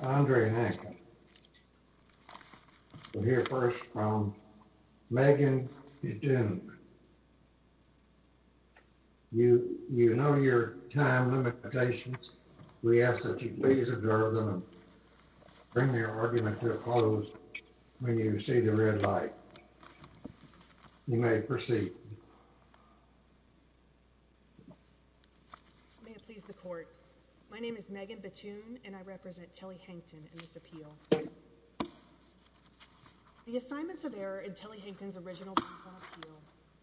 Andre Hankton We'll hear first from Megan Bethune. You know your time limitations. We ask that you please observe them and bring your argument to a close when you see the red light. May it please the court. My name is Megan Bethune and I represent Telly Hankton in this appeal. The assignments of error in Telly Hankton's original appeal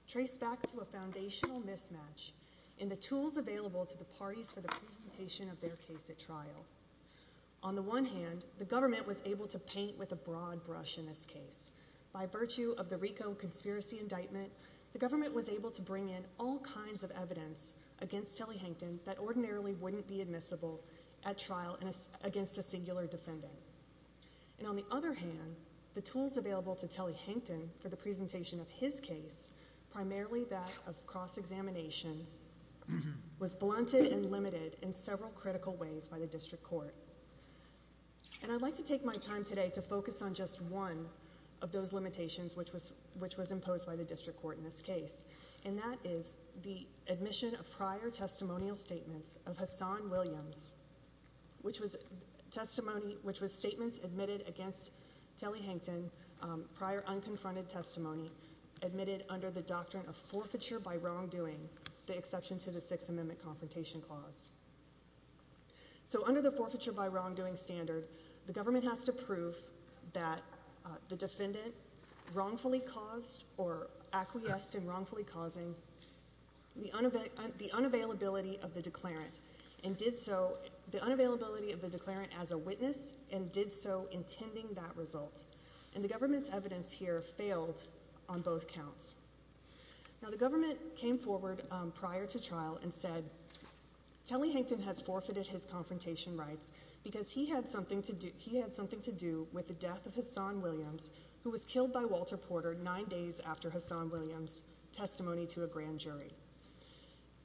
trace back to a foundational mismatch in the tools available to the parties for the presentation of their case at trial. On the one hand, the government was able to paint with a broad brush in this case. By virtue of the RICO conspiracy indictment, the government was able to bring in all kinds of evidence against Telly Hankton that ordinarily wouldn't be admissible at trial against a singular defendant. And on the other hand, the tools available to Telly Hankton for the presentation of his case, primarily that of cross-examination, was blunted and limited in several critical ways by the district court. And I'd like to take my time today to focus on just one of those limitations which was imposed by the district court in this case. And that is the admission of prior testimonial statements of Hassan Williams, which was testimony, which was statements admitted against Telly Hankton, prior unconfronted testimony, admitted under the doctrine of forfeiture by wrongdoing, the exception to the Sixth Amendment confrontation clause. So under the forfeiture by wrongdoing standard, the government has to prove that the defendant wrongfully caused or acquiesced in wrongfully causing the unavailability of the declarant and did so, the unavailability of the declarant as a witness and did so intending that result. And the government's evidence here failed on both counts. Now the government came forward prior to trial and said, Telly Hankton has forfeited his confrontation rights because he had something to do with the death of Hassan Williams, who was killed by Walter Porter nine days after Hassan Williams' testimony to a grand jury.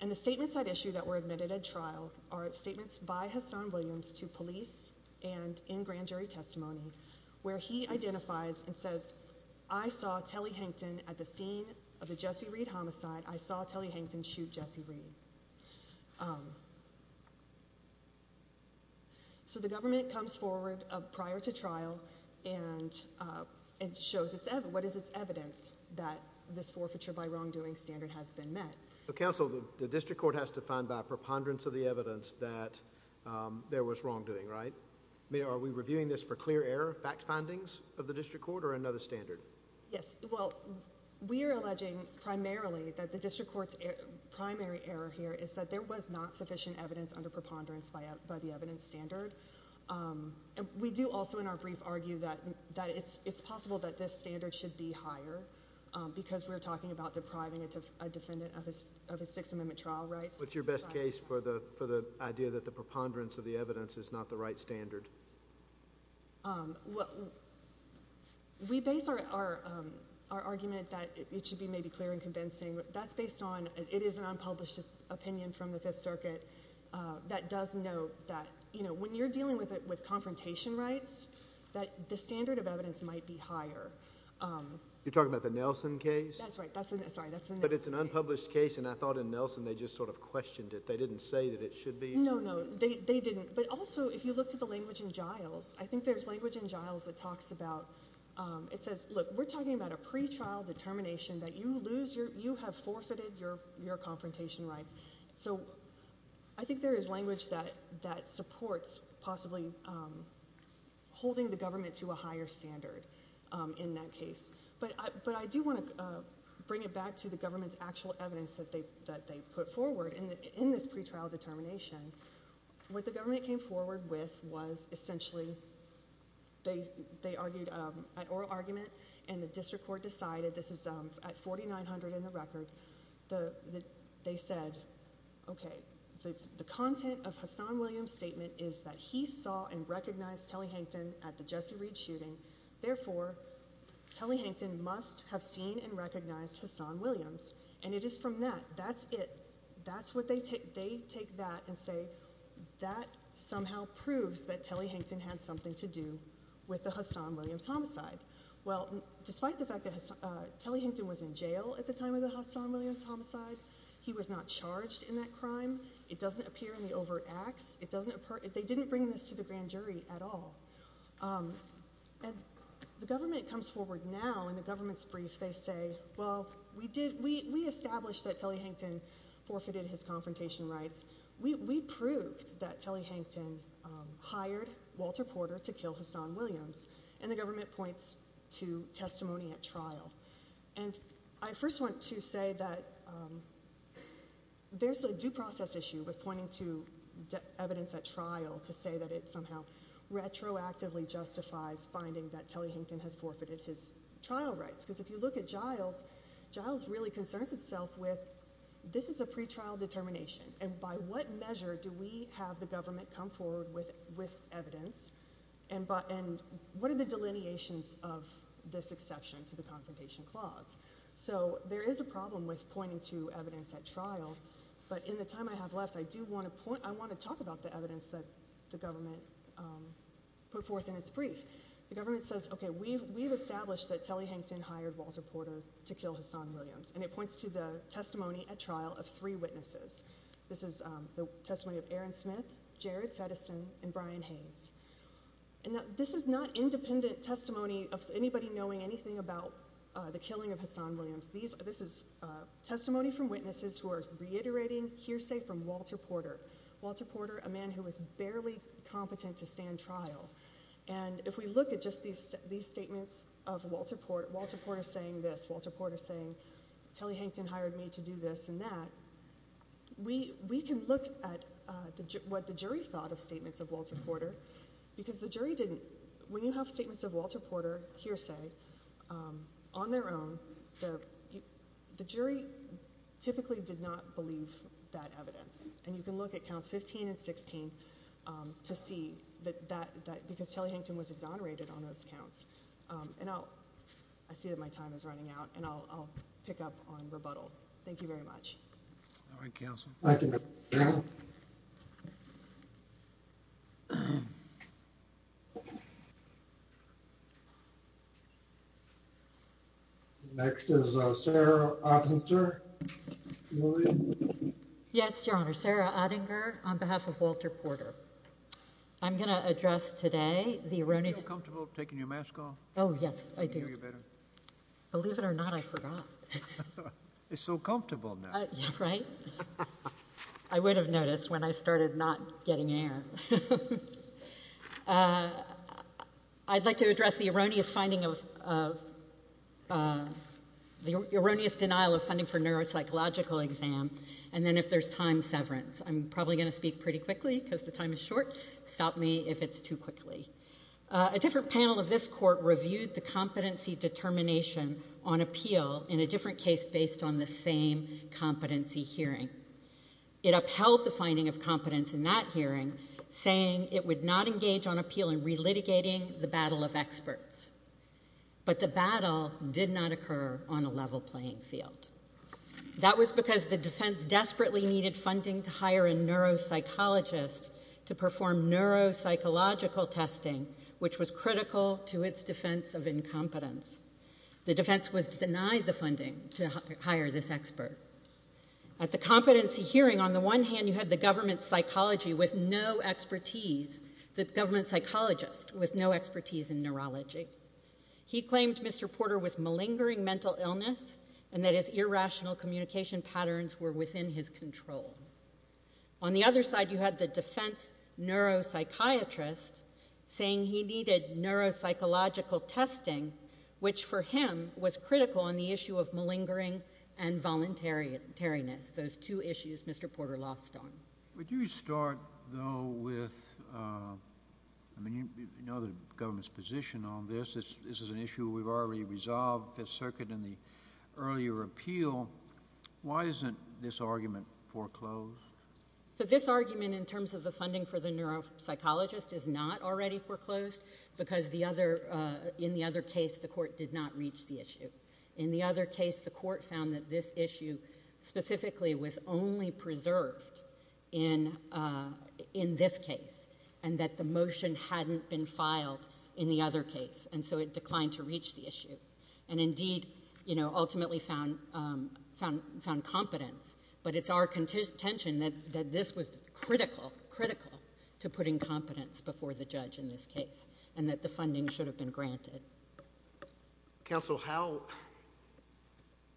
And the statements at issue that were admitted at trial are statements by Hassan Williams to police and in grand jury testimony where he identifies and says, I saw Telly Hankton at the scene of the Jesse Reed homicide. I saw Telly Hankton shoot Jesse Reed. So the government comes forward prior to trial and shows what is its evidence that this forfeiture by wrongdoing standard has been met. So counsel, the district court has to find by preponderance of the evidence that there was wrongdoing, right? I mean, are we reviewing this for clear error, fact findings of the district court or another standard? Yes. Well, we are alleging primarily that the district court's primary error here is that there was not sufficient evidence under preponderance by the evidence standard. And we do also in our brief argue that it's possible that this standard should be higher because we're talking about depriving a defendant of his Sixth Amendment trial rights. What's your best case for the idea that the preponderance of the evidence is not the right standard? We base our argument that it should be maybe clear and convincing. That's based on, it is an unpublished opinion from the Fifth Circuit that does note that, you know, when you're dealing with confrontation rights, that the standard of evidence might be higher. You're talking about the Nelson case? That's right. Sorry, that's the Nelson case. But it's an unpublished case, and I thought in Nelson they just sort of questioned it. They didn't say that it should be. No, no. They didn't. But also, if you look to the language in Giles, I think there's language in Giles that talks about, it says, look, we're talking about a pretrial determination that you lose, you have forfeited your confrontation rights. So I think there is language that supports possibly holding the government to a higher standard in that case. But I do want to bring it back to the government's actual evidence that they put forward in this pretrial determination. What the government came forward with was essentially, they argued an oral argument, and the district court decided, this is at 4900 in the record, they said, okay, the content of Hassan Williams' statement is that he saw and recognized Telly Hankton at the Jesse Reed shooting. Therefore, Telly Hankton must have seen and recognized Hassan Williams. And it is from that. That's it. That's what they take. They take that and say, that somehow proves that Telly Hankton had something to do with the Hassan Williams homicide. Well, despite the fact that Telly Hankton was in jail at the time of the Hassan Williams homicide, he was not charged in that crime. It doesn't appear in the overt acts. It doesn't appear, they didn't bring this to the grand jury at all. And the government comes forward now, in the government's brief, they say, well, we did, we established that Telly Hankton forfeited his confrontation rights. We proved that Telly Hankton hired Walter Porter to kill Hassan Williams. And the government points to testimony at trial. And I first want to say that there's a due process issue with pointing to evidence at trial to say that it somehow retroactively justifies finding that Telly Hankton has forfeited his trial rights. Because if you look at Giles, Giles really concerns itself with, this is a pretrial determination. And by what measure do we have the government come forward with evidence? And what are the delineations of this exception to the confrontation clause? So there is a problem with pointing to evidence at trial. But in the time I have left, I do want to point, I want to talk about the evidence that the government put forth in its brief. The government says, okay, we've established that Telly Hankton hired Walter Porter to kill Hassan Williams. And it points to the testimony at trial of three witnesses. This is the testimony of Aaron Smith, Jared Feddesen, and Brian Hayes. And this is not independent testimony of anybody knowing anything about the killing of Hassan Williams. This is testimony from witnesses who are reiterating hearsay from Walter Porter. Walter Porter, a man who was barely competent to stand trial. And if we look at just these statements of Walter Porter, Walter Porter saying this, Walter Porter saying Telly Hankton hired me to do this and that, we can look at what the jury thought of statements of Walter Porter. Because the jury didn't, when you have statements of Walter Porter, hearsay, on their own, the jury typically did not believe that evidence. And you can look at counts 15 and 16 to see that, because Telly Hankton was exonerated on those counts. And I'll, I see that my time is running out, and I'll pick up on rebuttal. Thank you very much. All right, counsel. Thank you. Yes, Your Honor. Sarah Ottinger. I'm Sarah Ottinger on behalf of Walter Porter. I'm going to address today the erroneous... Do you feel comfortable taking your mask off? Oh, yes, I do. I can hear you better. Believe it or not, I forgot. It's so comfortable now. Right? I would have noticed when I started not getting air. I'd like to address the erroneous finding of, the erroneous denial of funding for neuropsychological exam, and then if there's time severance. I'm probably going to speak pretty quickly, because the time is short. Stop me if it's too quickly. A different panel of this court reviewed the competency determination on appeal in a different case based on the same competency hearing. It upheld the finding of competence in that hearing, saying it would not engage on appeal in relitigating the battle of experts. But the battle did not occur on a level playing field. That was because the defense desperately needed funding to hire a neuropsychologist to perform neuropsychological testing, which was critical to its defense of incompetence. The defense was denied the funding to hire this expert. At the competency hearing, on the one hand, you had the government psychology with no expertise, the government psychologist with no expertise in neurology. He claimed Mr. Porter was malingering mental illness, and that his irrational communication patterns were within his control. On the other side, you had the defense neuropsychiatrist saying he needed neuropsychological testing, which for him was critical on the issue of malingering and voluntariness, those two issues Mr. Porter lost on. Would you start, though, with, I mean, you know the government's position on this. This is an issue we've already resolved, Fifth Circuit and the earlier appeal. Why isn't this argument foreclosed? This argument in terms of the funding for the neuropsychologist is not already foreclosed because in the other case, the court did not reach the issue. In the other case, the court found that this issue specifically was only preserved in this case, and that the motion hadn't been filed in the other case, and so it declined to reach the issue, and indeed, you know, ultimately found competence. But it's our contention that this was critical, critical to putting competence before the judge in this case, and that the funding should have been granted. Counsel, how,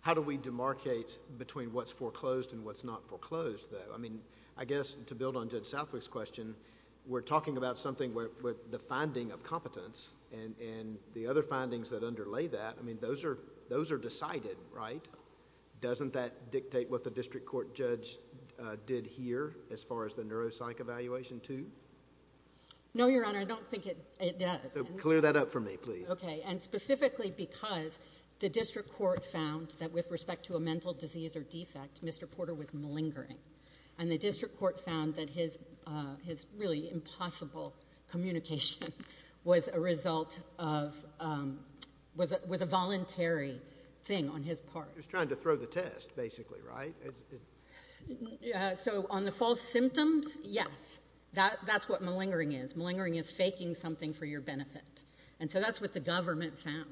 how do we demarcate between what's foreclosed and what's not foreclosed, though? I mean, I guess, to build on Judge Southwick's question, we're talking about something with the finding of competence, and the other findings that underlay that, I mean, those are, those are decided, right? Doesn't that dictate what the district court judge did here as far as the neuropsych evaluation too? No, Your Honor, I don't think it, it does. So clear that up for me, please. Okay, and specifically because the district court found that with respect to a mental disease or defect, Mr. Porter was malingering, and the district court found that his, his really impossible communication was a result of, was a voluntary thing on his part. He was trying to throw the test, basically, right? So on the false symptoms, yes, that, that's what malingering is. Malingering is faking something for your benefit. And so that's what the government found.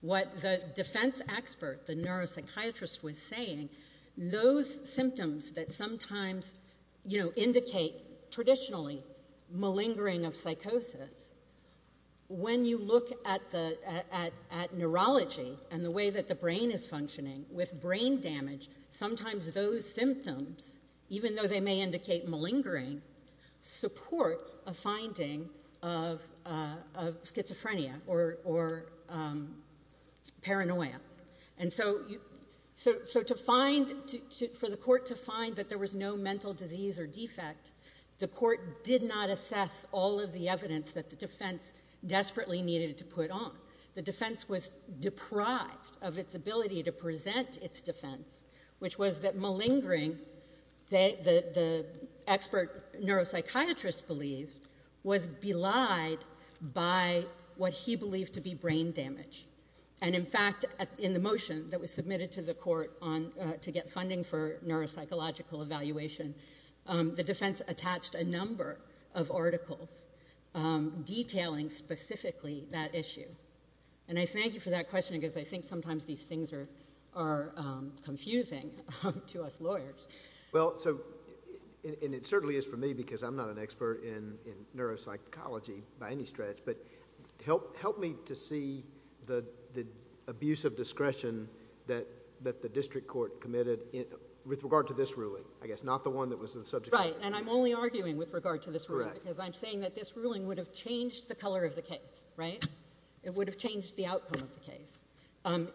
What the defense expert, the neuropsychiatrist was saying, those symptoms that sometimes, you know, indicate traditionally malingering of psychosis, when you look at the, at, at neurology and the way that the brain is functioning with brain damage, sometimes those symptoms, even though they may indicate malingering, support a finding of, of schizophrenia or, or paranoia. And so, so, so to find, to, to, for the court to find that there was no mental disease or defect, the court did not assess all of the evidence that the defense desperately needed to put on. The defense was deprived of its ability to present its defense, which was that malingering, they, the, the expert neuropsychiatrist believed was belied by what he believed to be brain damage. And in fact, in the motion that was submitted to the court on, to get funding for neuropsychological evaluation, the defense attached a number of articles detailing specifically that issue. And I thank you for that question, because I think sometimes these things are, are confusing to us lawyers. Well, so, and, and it certainly is for me, because I'm not an expert in, in neuropsychology by any stretch, but help, help me to see the, the abuse of discretion that, that the district court committed in, with regard to this ruling, I guess, not the one that was in the subject of the ruling. Right. And I'm only arguing with regard to this ruling. Correct. Because I'm saying that this ruling would have changed the color of the case, right? It would have changed the outcome of the case,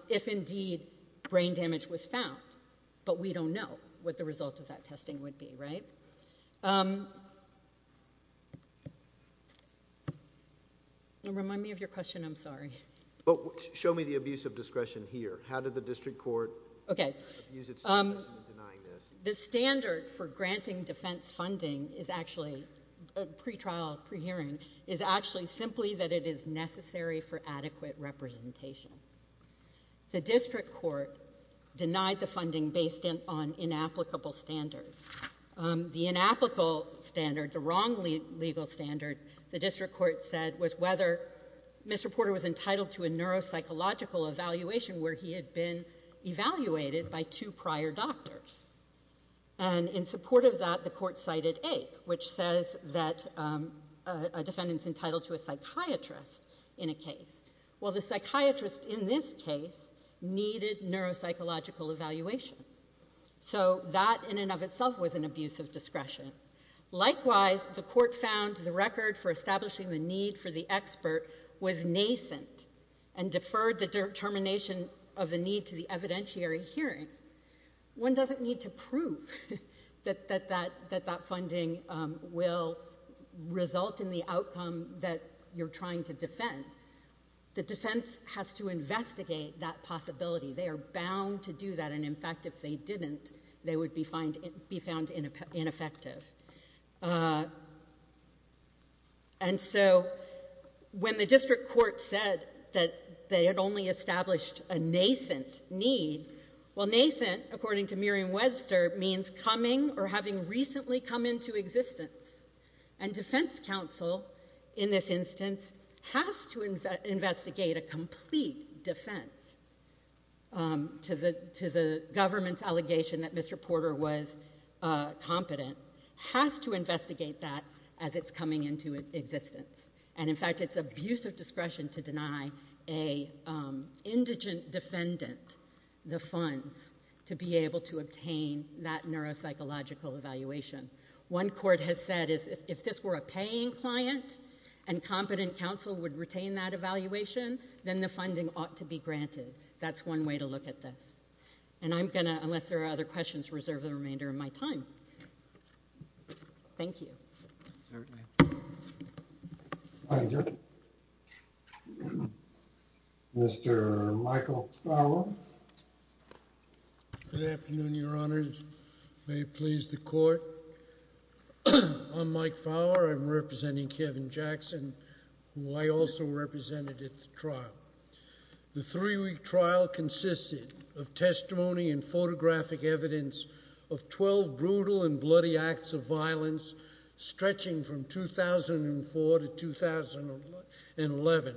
if indeed brain damage was found. But we don't know what the result of that testing would be, right? Remind me of your question, I'm sorry. But show me the abuse of discretion here. How did the district court? Okay. Abuse of discretion in denying this. The standard for granting defense funding is actually, pre-trial, pre-hearing, is actually simply that it is necessary for adequate representation. The district court denied the funding based in, on inapplicable standards. The inapplicable standard, the wrong legal standard, the district court said, was whether Mr. Porter was entitled to a neuropsychological evaluation where he had been evaluated by two prior doctors. And in support of that, the court cited Ape, which says that a defendant's entitled to a psychiatrist in a case. Well, the psychiatrist in this case needed neuropsychological evaluation. So that, in and of itself, was an abuse of discretion. Likewise, the court found the record for establishing the need for the expert was nascent and deferred the determination of the need to the evidentiary hearing. One doesn't need to prove that that funding will result in the outcome that you're trying to defend. The defense has to investigate that possibility. They are bound to do that. And, in fact, if they didn't, they would be found ineffective. And so when the district court said that they had only established a nascent need, well, nascent, according to Merriam-Webster, means coming or having recently come into existence. And defense counsel, in this instance, has to investigate a complete defense to the government's allegation that Mr. Porter was competent, has to investigate that as it's coming into existence. And, in fact, it's abuse of discretion to deny an indigent defendant the funds to be able to obtain that neuropsychological evaluation. One court has said is if this were a paying client and competent counsel would retain that evaluation, then the funding ought to be granted. That's one way to look at this. And I'm going to, unless there are other questions, reserve the remainder of my time. Thank you. All right. Thank you. Mr. Michael Fowler. Good afternoon, Your Honors. May it please the Court. I'm Mike Fowler. I'm representing Kevin Jackson, who I also represented at the trial. The three-week trial consisted of testimony and photographic evidence of 12 brutal and bloody acts of violence stretching from 2004 to 2011.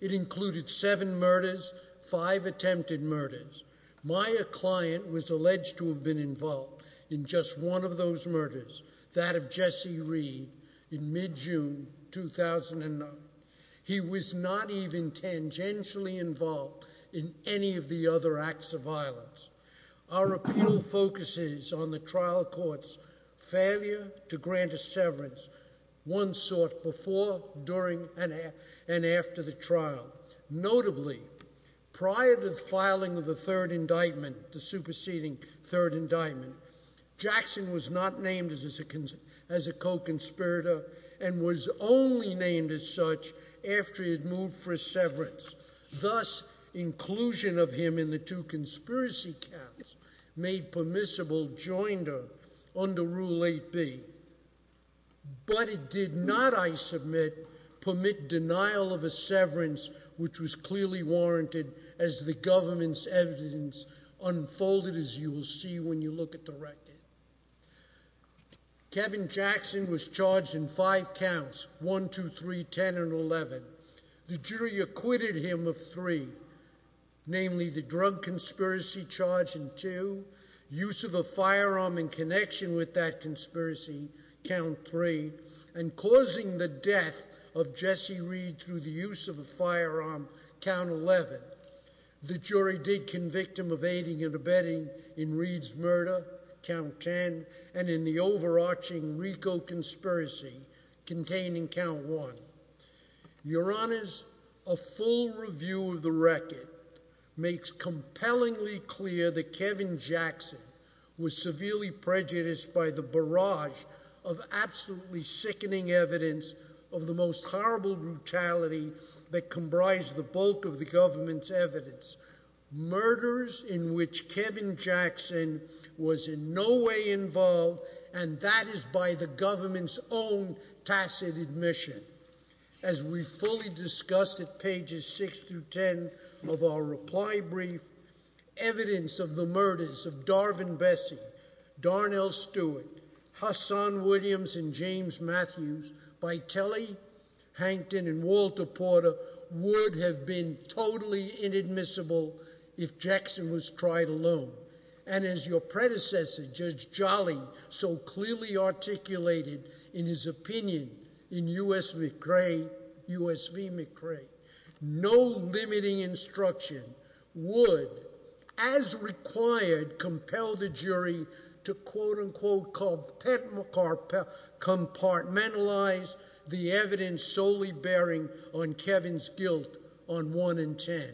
It included seven murders, five attempted murders. My client was alleged to have been involved in just one of those murders, that of Jesse Reed, in mid-June 2009. He was not even tangentially involved in any of the other acts of violence. Our appeal focuses on the trial court's failure to grant a severance once sought before, during, and after the trial. Notably, prior to the filing of the third indictment, the superseding third indictment, Jackson was not named as a co-conspirator and was only named as such after he had moved for a severance. Thus, inclusion of him in the two conspiracy counts made permissible joinder under Rule 8B. But it did not, I submit, permit denial of a severance, which was clearly warranted as the government's evidence unfolded, as you will see when you look at the record. Kevin Jackson was charged in five counts, 1, 2, 3, 10, and 11. The jury acquitted him of three, namely the drug conspiracy charge in two, use of a firearm in connection with that conspiracy, count 3, and causing the death of Jesse Reed through the use of a firearm, count 11. The jury did convict him of aiding and abetting in Reed's murder, count 10, and in the overarching RICO conspiracy, containing count 1. Your Honors, a full review of the record makes compellingly clear that Kevin Jackson was severely prejudiced by the barrage of absolutely sickening evidence of the most horrible brutality that comprised the bulk of the government's evidence, murders in which Kevin Jackson was in no way involved, and that is by the government's own tacit admission. As we fully discussed at pages 6 through 10 of our reply brief, evidence of the murders of Darvin Bessie, Darnell Stewart, Hassan Williams, and James Matthews by Telly, Hankton, and Walter Porter would have been totally inadmissible if Jackson was tried alone. And as your predecessor, Judge Jolly, so clearly articulated in his opinion in U.S. v. McRae, no limiting instruction would, as required, compel the jury to quote-unquote compartmentalize the evidence solely bearing on Kevin's guilt on 1 and 10.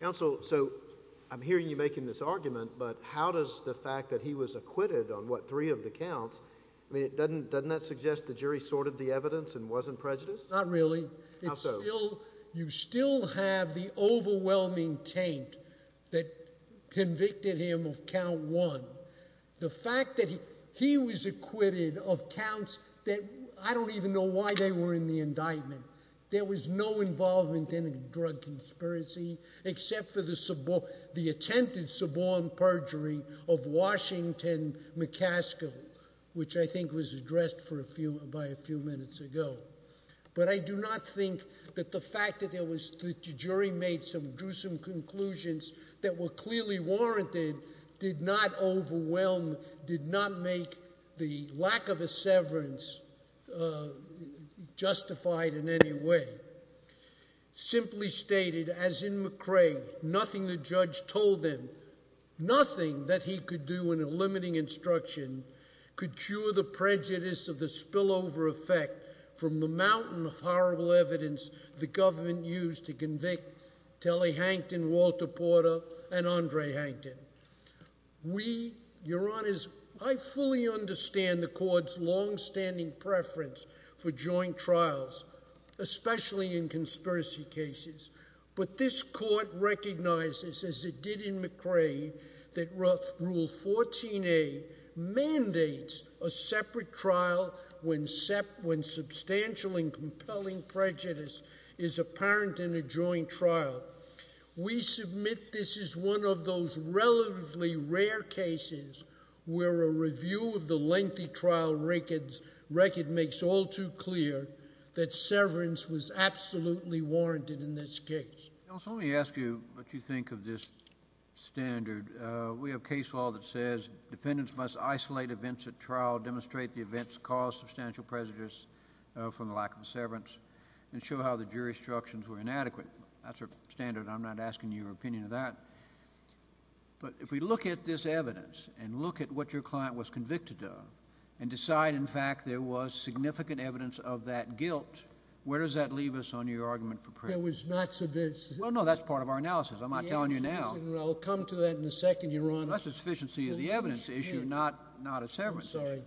Counsel, so I'm hearing you making this argument, but how does the fact that he was acquitted on what, three of the counts, I mean, doesn't that suggest the jury sorted the evidence and wasn't prejudiced? Not really. How so? It's still, you still have the overwhelming taint that convicted him of count one. The fact that he was acquitted of counts that, I don't even know why they were in the indictment. There was no involvement in a drug conspiracy except for the attempted suborn perjury of Washington McCaskill, which I think was addressed by a few minutes ago. But I do not think that the fact that there was, that the jury made some gruesome conclusions that were clearly warranted did not overwhelm, did not make the lack of a severance justified in any way. Simply stated, as in McRae, nothing the judge told him, nothing that he could do in a limiting instruction could cure the prejudice of the spillover effect from the mountain of horrible evidence the government used to convict Telly Hankton, Walter Porter, and Andre Hankton. We, your honors, I fully understand the court's longstanding preference for joint trials, especially in conspiracy cases, but this court recognizes, as it did in McRae, that rule 14A mandates a separate trial when substantial and compelling prejudice is apparent in a joint trial. We submit this is one of those relatively rare cases where a review of the lengthy trial record makes all too clear that severance was absolutely warranted in this case. Counsel, let me ask you what you think of this standard. We have case law that says defendants must isolate events at trial, demonstrate the events caused substantial prejudice from the lack of severance, and show how the jury's instructions were inadequate. That's a standard. I'm not asking your opinion of that. But if we look at this evidence and look at what your client was convicted of and decide, in fact, there was significant evidence of that guilt, where does that leave us on your argument for prejudice? I think there was not sufficient. Well, no. That's part of our analysis. I'm not telling you now. Well, I'll come to that in a second, your honor. That's a sufficiency of the evidence issue, not a severance issue. I'm sorry.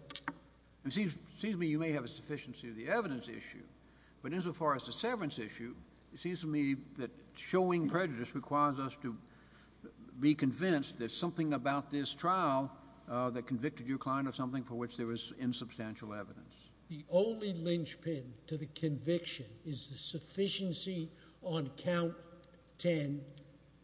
It seems to me you may have a sufficiency of the evidence issue, but insofar as the severance issue, it seems to me that showing prejudice requires us to be convinced there's something about this trial that convicted your client of something for which there was insubstantial evidence. The only linchpin to the conviction is the sufficiency on count 10,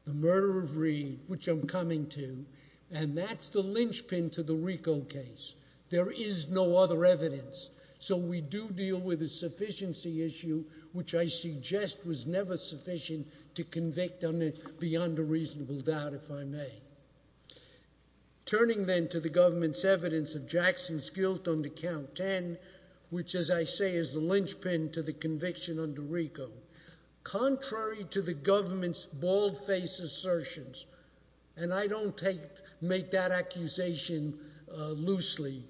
the murder of Reed, which I'm coming to, and that's the linchpin to the Rico case. There is no other evidence. So we do deal with a sufficiency issue, which I suggest was never sufficient to convict on it beyond a reasonable doubt, if I may. Turning then to the government's evidence of Jackson's guilt on the count 10, which as I say is the linchpin to the conviction under Rico, contrary to the government's bald face assertions, and I don't make that accusation loosely,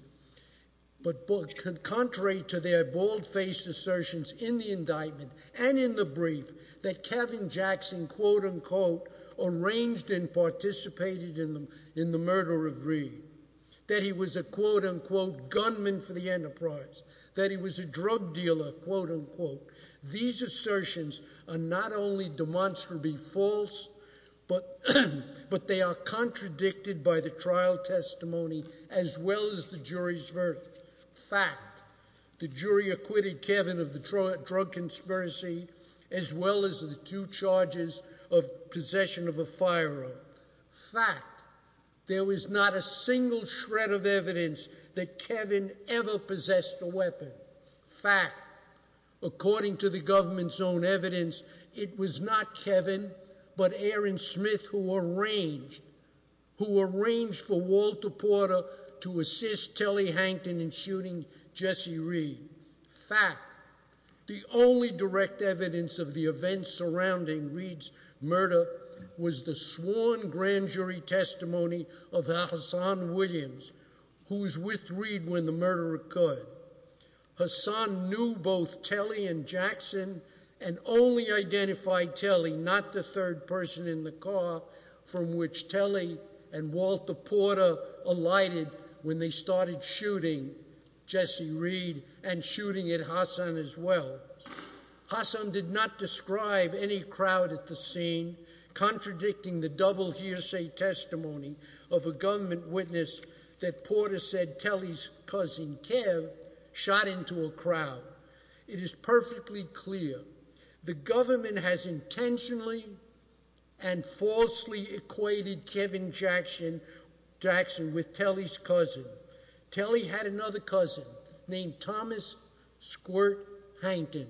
but contrary to their bald face assertions in the indictment and in the brief that Kevin Jackson quote unquote arranged and participated in the murder of Reed, that he was a quote unquote gunman for the enterprise, that he was a drug dealer quote unquote, these assertions are not only demonstrably false, but they are contradicted by the trial testimony as well as the jury's verdict. Fact, the jury acquitted Kevin of the drug conspiracy as well as the two charges of possession of a firearm. Fact, there was not a single shred of evidence that Kevin ever possessed a weapon. Fact, according to the government's own evidence, it was not Kevin, but Aaron Smith who arranged for Walter Porter to assist Telly Hankton in shooting Jesse Reed. Fact, the only direct evidence of the events surrounding Reed's murder was the sworn grand jury testimony of Hassan Williams, who was with Reed when the murder occurred. Hassan knew both Telly and Jackson and only identified Telly, not the third person in the car from which Telly and Walter Porter alighted when they started shooting Jesse Reed and shooting at Hassan as well. Hassan did not describe any crowd at the scene, contradicting the double hearsay testimony of a government witness that Porter said Telly's cousin Kev shot into a crowd. It is perfectly clear the government has intentionally and falsely equated Kevin Jackson with Telly's cousin. Telly had another cousin named Thomas Squirt Hankton.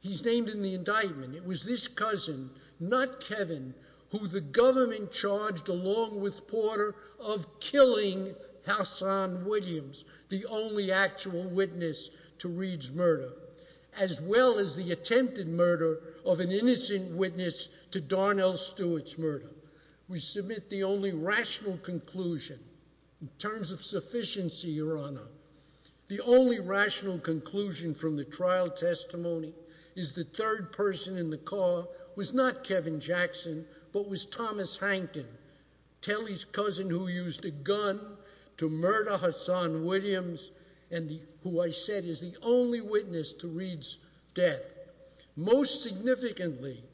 He's named in the indictment. It was this cousin, not Kevin, who the government charged along with Porter of killing Hassan a witness to Reed's murder, as well as the attempted murder of an innocent witness to Darnell Stewart's murder. We submit the only rational conclusion in terms of sufficiency, Your Honor, the only rational conclusion from the trial testimony is the third person in the car was not Kevin Jackson, but was Thomas Hankton, Telly's cousin who used a gun to murder Hassan Williams and who I said is the only witness to Reed's death. Most significantly,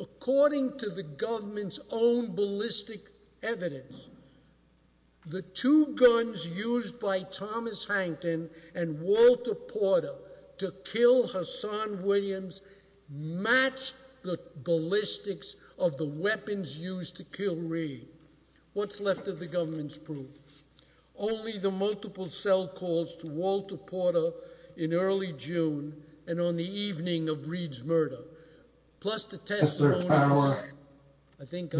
according to the government's own ballistic evidence, the two guns used by Thomas Hankton and Walter Porter to kill Hassan Williams match the ballistics of the weapons used to kill Reed. What's left of the government's proof? Only the multiple cell calls to Walter Porter in early June and on the evening of Reed's murder, plus the test. I think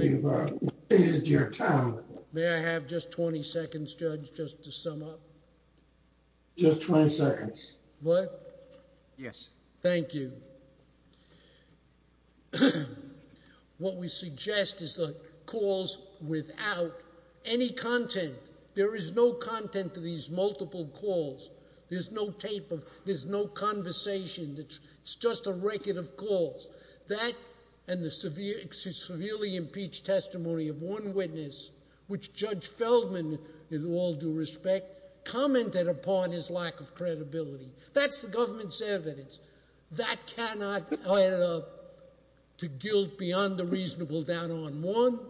you're telling me I have just 20 seconds, Judge, just to sum up. Just 20 seconds, but yes, thank you. What we suggest is the calls without any content. There is no content to these multiple calls. There's no tape of, there's no conversation. It's just a record of calls. That and the severely impeached testimony of one witness, which Judge Feldman, with all due respect, commented upon his lack of credibility. That's the government's evidence. That cannot add up to guilt beyond the reasonable doubt on one,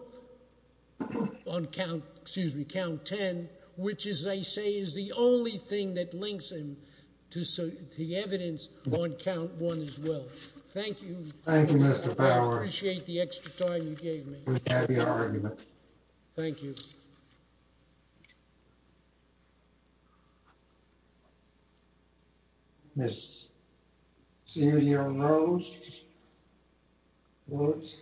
on count, excuse me, count 10, which as I say is the only thing that links him to the evidence on count one as well. Thank you. Thank you, Mr. Fowler. I appreciate the extra time you gave me. Thank you. Thank you if we could all please rise for your argument. Thank you. Ms. Silia Rhodes. Who it is?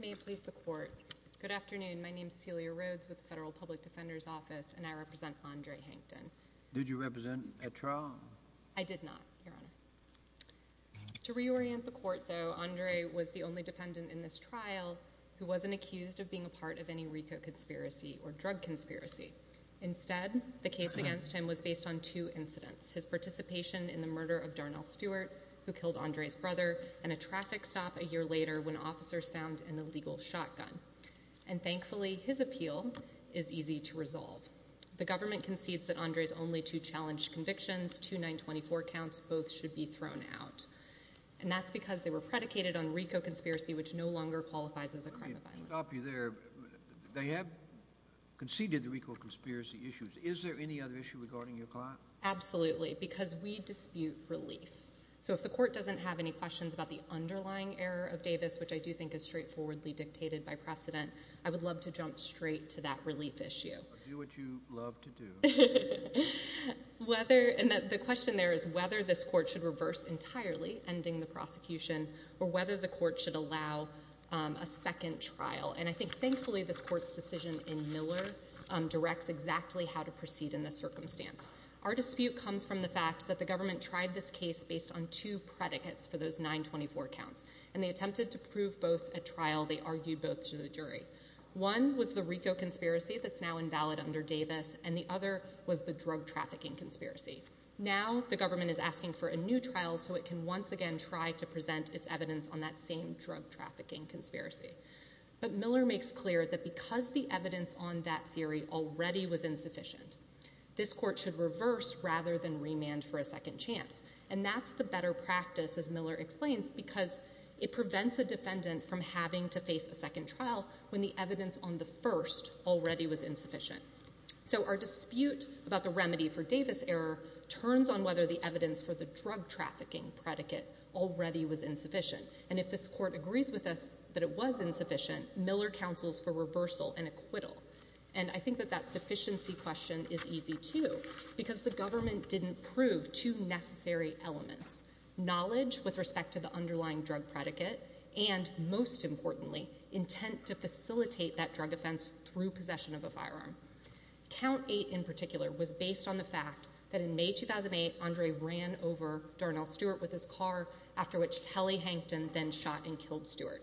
May it please the courts, good afternoon, my name is Silia Rhodes with the Federal Public Defenders Office, and I represent Andre surveillant. Did you represent a trial? I did not, Your Honor. To reorient the court, though, Andre was the only defendant in this trial who wasn't accused of being a part of any RICO conspiracy or drug conspiracy. Instead, the case against him was based on two incidents, his participation in the murder of Darnell Stewart, who killed Andre's brother, and a traffic stop a year later when officers found an illegal shotgun. And thankfully, his appeal is easy to resolve. The government concedes that Andre's only two challenged convictions, two 924 counts, both should be thrown out. And that's because they were predicated on RICO conspiracy, which no longer qualifies as a crime of violence. Let me stop you there. They have conceded the RICO conspiracy issues. Is there any other issue regarding your client? Absolutely, because we dispute relief. So if the court doesn't have any questions about the underlying error of Davis, which I do think is straightforwardly dictated by precedent, I would love to jump straight to that relief issue. Do what you love to do. And the question there is whether this court should reverse entirely, ending the prosecution, or whether the court should allow a second trial. And I think thankfully, this court's decision in Miller directs exactly how to proceed in this circumstance. Our dispute comes from the fact that the government tried this case based on two predicates for those 924 counts. One was the RICO conspiracy that's now invalid under Davis, and the other was the drug trafficking conspiracy. Now, the government is asking for a new trial so it can once again try to present its evidence on that same drug trafficking conspiracy. But Miller makes clear that because the evidence on that theory already was insufficient, this court should reverse rather than remand for a second chance. And that's the better practice, as Miller explains, because it prevents a defendant from having to face a second trial when the evidence on the first already was insufficient. So our dispute about the remedy for Davis error turns on whether the evidence for the drug trafficking predicate already was insufficient. And if this court agrees with us that it was insufficient, Miller counsels for reversal and acquittal. And I think that that sufficiency question is easy, too, because the government didn't prove two necessary elements, knowledge with respect to the underlying drug predicate and most importantly, intent to facilitate that drug offense through possession of a firearm. Count 8 in particular was based on the fact that in May 2008, Andre ran over Darnell Stewart with his car, after which Telly Hankton then shot and killed Stewart.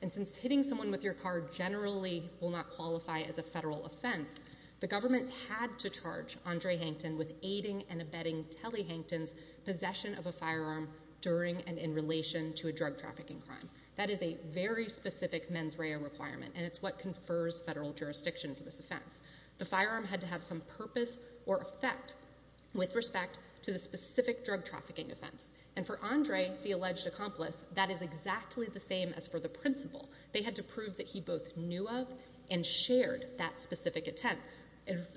And since hitting someone with your car generally will not qualify as a federal offense, the government had to charge Andre Hankton with aiding and abetting Telly Hankton's possession of a firearm during and in relation to a drug trafficking crime. That is a very specific mens rea requirement, and it's what confers federal jurisdiction for this offense. The firearm had to have some purpose or effect with respect to the specific drug trafficking offense. And for Andre, the alleged accomplice, that is exactly the same as for the principal. They had to prove that he both knew of and shared that specific intent.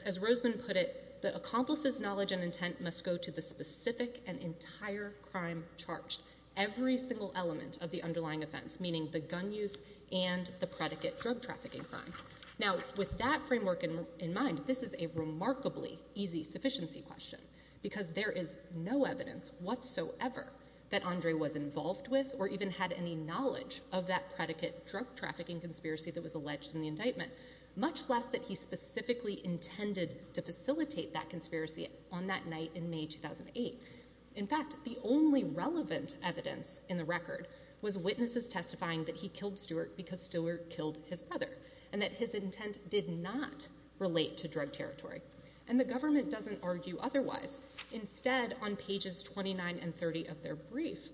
As Roseman put it, the accomplice's knowledge and intent must go to the specific and entire crime charged. Every single element of the underlying offense, meaning the gun use and the predicate drug trafficking crime. Now, with that framework in mind, this is a remarkably easy sufficiency question because there is no evidence whatsoever that Andre was involved with or even had any knowledge of that predicate drug trafficking conspiracy that was alleged in the indictment, much less that he specifically intended to facilitate that conspiracy on that night in May 2008. In fact, the only relevant evidence in the record was witnesses testifying that he killed Stewart because Stewart killed his brother and that his intent did not relate to drug territory. And the government doesn't argue otherwise. Instead, on pages 29 and 30 of their brief,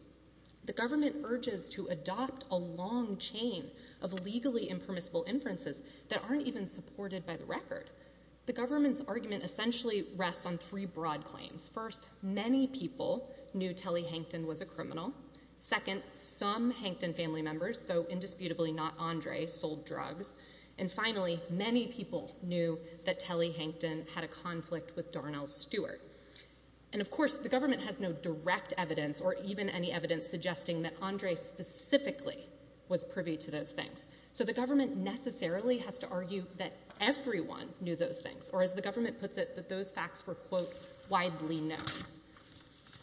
the government urges to adopt a long chain of legally impermissible inferences that aren't even supported by the record. The government's argument essentially rests on three broad claims. First, many people knew Telly Hankton was a criminal. Second, some Hankton family members, though indisputably not Andre, sold drugs. And finally, many people knew that Telly Hankton had a conflict with Darnell Stewart. And of course, the government has no direct evidence or even any evidence suggesting that Andre specifically was privy to those things. So the government necessarily has to argue that everyone knew those things, or as the court has already known.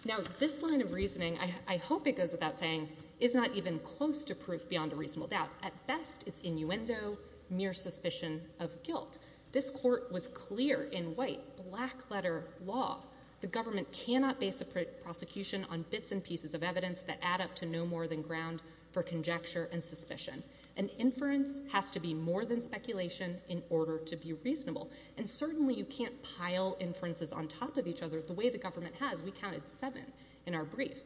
Now, this line of reasoning, I hope it goes without saying, is not even close to proof beyond a reasonable doubt. At best, it's innuendo, mere suspicion of guilt. This court was clear in white, black-letter law. The government cannot base a prosecution on bits and pieces of evidence that add up to no more than ground for conjecture and suspicion. An inference has to be more than speculation in order to be reasonable. And certainly you can't pile inferences on top of each other the way the government has. We counted seven in our brief.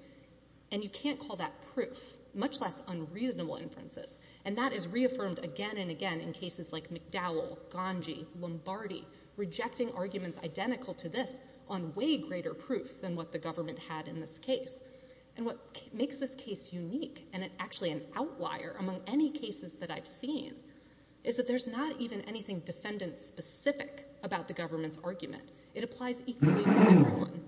And you can't call that proof, much less unreasonable inferences. And that is reaffirmed again and again in cases like McDowell, Ganji, Lombardi, rejecting arguments identical to this on way greater proof than what the government had in this case. And what makes this case unique, and actually an outlier among any cases that I've seen, is that there's not even anything defendant-specific about the government's argument. It applies equally to everyone.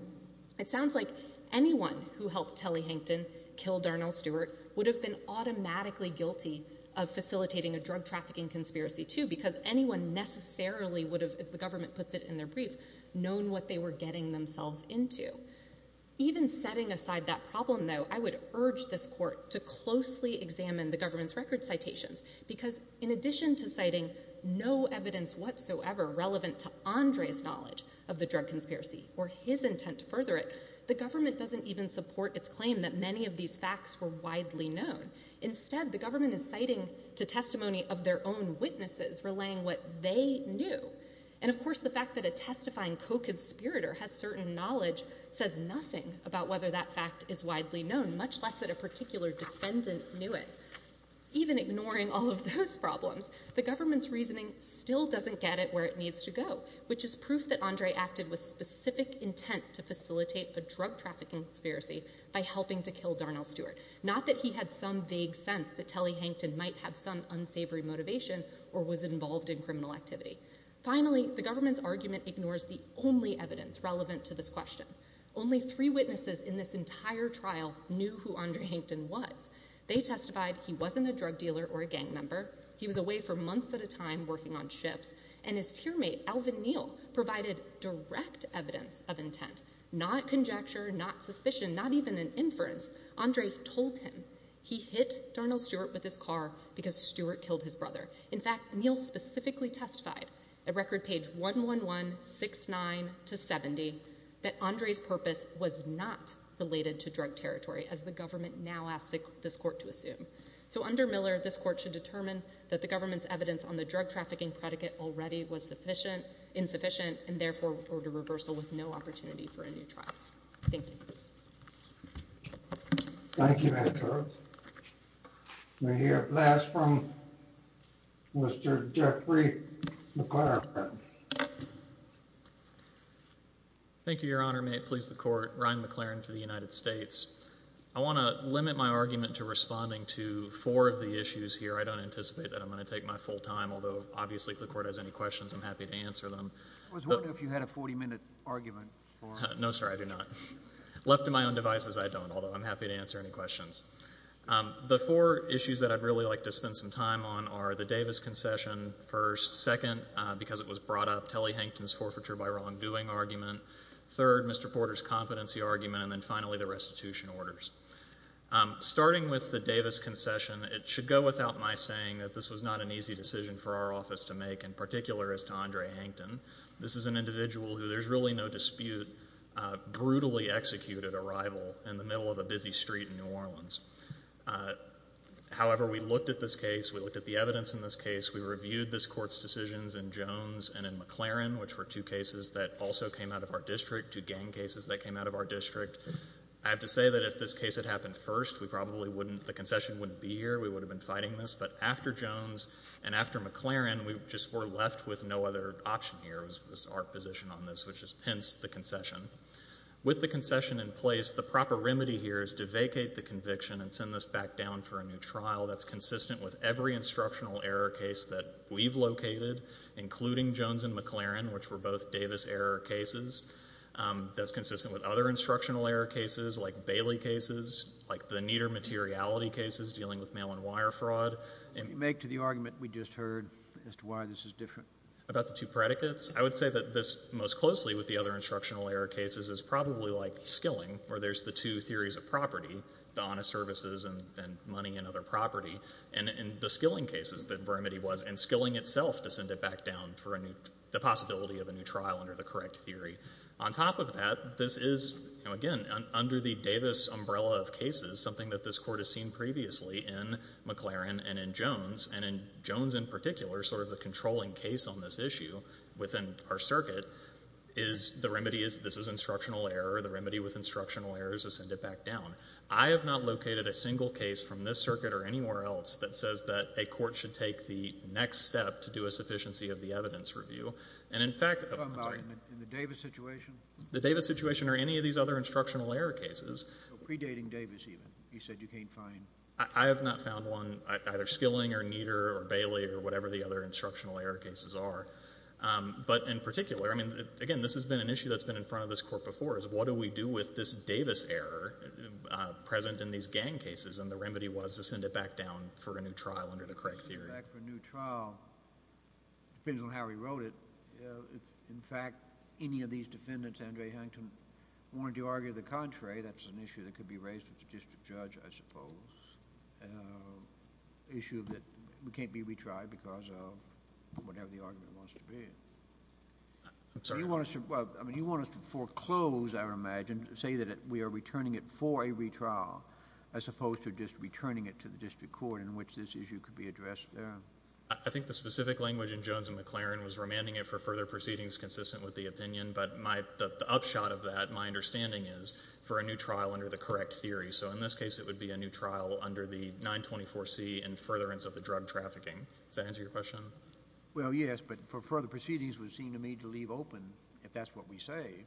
It sounds like anyone who helped Telly Hankton kill Darnell Stewart would have been automatically guilty of facilitating a drug trafficking conspiracy, too, because anyone necessarily would have, as the government puts it in their brief, known what they were getting themselves into. Even setting aside that problem, though, I would urge this court to closely examine the case. In addition to citing no evidence whatsoever relevant to Andre's knowledge of the drug conspiracy or his intent to further it, the government doesn't even support its claim that many of these facts were widely known. Instead, the government is citing to testimony of their own witnesses relaying what they knew. And of course the fact that a testifying co-conspirator has certain knowledge says nothing about whether that fact is widely known, much less that a particular defendant knew it. Even ignoring all of those problems, the government's reasoning still doesn't get it where it needs to go, which is proof that Andre acted with specific intent to facilitate a drug trafficking conspiracy by helping to kill Darnell Stewart. Not that he had some vague sense that Telly Hankton might have some unsavory motivation or was involved in criminal activity. Finally, the government's argument ignores the only evidence relevant to this question. Only three witnesses in this entire trial knew who Andre Hankton was. They testified he wasn't a drug dealer or a gang member. He was away for months at a time working on ships. And his tearmate, Alvin Neal, provided direct evidence of intent. Not conjecture, not suspicion, not even an inference. Andre told him he hit Darnell Stewart with his car because Stewart killed his brother. In fact, Neal specifically testified at record page 11169-70 that Andre's purpose was not related to drug territory, as the government now asks this court to assume. So under Miller, this court should determine that the government's evidence on the drug trafficking predicate already was insufficient and therefore order reversal with no opportunity for a new trial. Thank you. Thank you, Madam Clerk. May I hear a blast from Mr. Jeffrey McLaren. Thank you, Your Honor. May it please the Court, Ryan McLaren for the United States. I want to limit my argument to responding to four of the issues here. I don't anticipate that I'm going to take my full time, although obviously if the Court has any questions, I'm happy to answer them. I was wondering if you had a 40-minute argument. No, sir. I do not. Left to my own devices, I don't, although I'm happy to answer any questions. The four issues that I'd really like to spend some time on are the Davis concession, first. Second, because it was brought up, Telly Hankton's forfeiture by wrongdoing argument. Third, Mr. Porter's competency argument, and then finally the restitution orders. Starting with the Davis concession, it should go without my saying that this was not an easy decision for our office to make, in particular as to Andre Hankton. This is an individual who, there's really no dispute, brutally executed a rival in the middle of a busy street in New Orleans. However, we looked at this case, we looked at the evidence in this case, we reviewed this Court's decisions in Jones and in McLaren, which were two cases that also came out of our district, two gang cases that came out of our district. I have to say that if this case had happened first, we probably wouldn't, the concession wouldn't be here. We would have been fighting this. But after Jones and after McLaren, we just were left with no other option here, was our position on this, which is hence the concession. With the concession in place, the proper remedy here is to vacate the conviction and send this back down for a new trial that's consistent with every instructional error case that we've located, including Jones and McLaren, which were both Davis error cases, that's consistent with other instructional error cases, like Bailey cases, like the Nieder materiality cases dealing with mail-and-wire fraud. And you make to the argument we just heard as to why this is different. About the two predicates? I would say that this most closely with the other instructional error cases is probably like skilling, where there's the two theories of property, the honest services and money and other property, and the skilling cases, the remedy was. And skilling itself to send it back down for the possibility of a new trial under the correct theory. On top of that, this is, again, under the Davis umbrella of cases, something that this Court has seen previously in McLaren and in Jones, and in Jones in particular, sort of the controlling case on this issue within our circuit, is the remedy is this is instructional error. The remedy with instructional error is to send it back down. I have not located a single case from this circuit or anywhere else that says that a next step to do a sufficiency of the evidence review, and in fact, oh, I'm sorry. In the Davis situation? The Davis situation or any of these other instructional error cases. Predating Davis, even. He said you can't find. I have not found one, either skilling or Nieder or Bailey or whatever the other instructional error cases are. But in particular, I mean, again, this has been an issue that's been in front of this Court before, is what do we do with this Davis error present in these gang cases? And the remedy was to send it back down for a new trial under the correct theory. And to send it back for a new trial, depends on how he wrote it, if in fact, any of these defendants, Andre Hankin, wanted to argue the contrary, that's an issue that could be raised with the district judge, I suppose. Issue that can't be retried because of whatever the argument wants to be. I'm sorry. You want us to... well, I mean, you want us to foreclose, I would imagine, say that we are returning it for a retrial as opposed to just returning it to the district court in which this issue could be addressed. I think the specific language in Jones and McLaren was remanding it for further proceedings consistent with the opinion, but the upshot of that, my understanding is, for a new trial under the correct theory. So, in this case, it would be a new trial under the 924C in furtherance of the drug trafficking. Does that answer your question? Well, yes. But for further proceedings, it would seem to me to leave open, if that's what we say,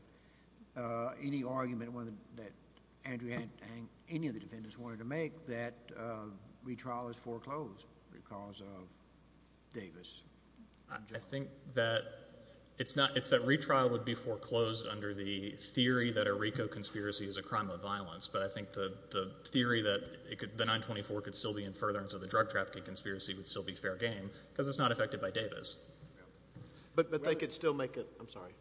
any argument that any of the defendants wanted to make that retrial is foreclosed because of Davis. I think that it's not... it's that retrial would be foreclosed under the theory that a RICO conspiracy is a crime of violence, but I think the theory that the 924 could still be in furtherance of the drug trafficking conspiracy would still be fair game because it's not affected by Davis. But they could still make a... I'm sorry.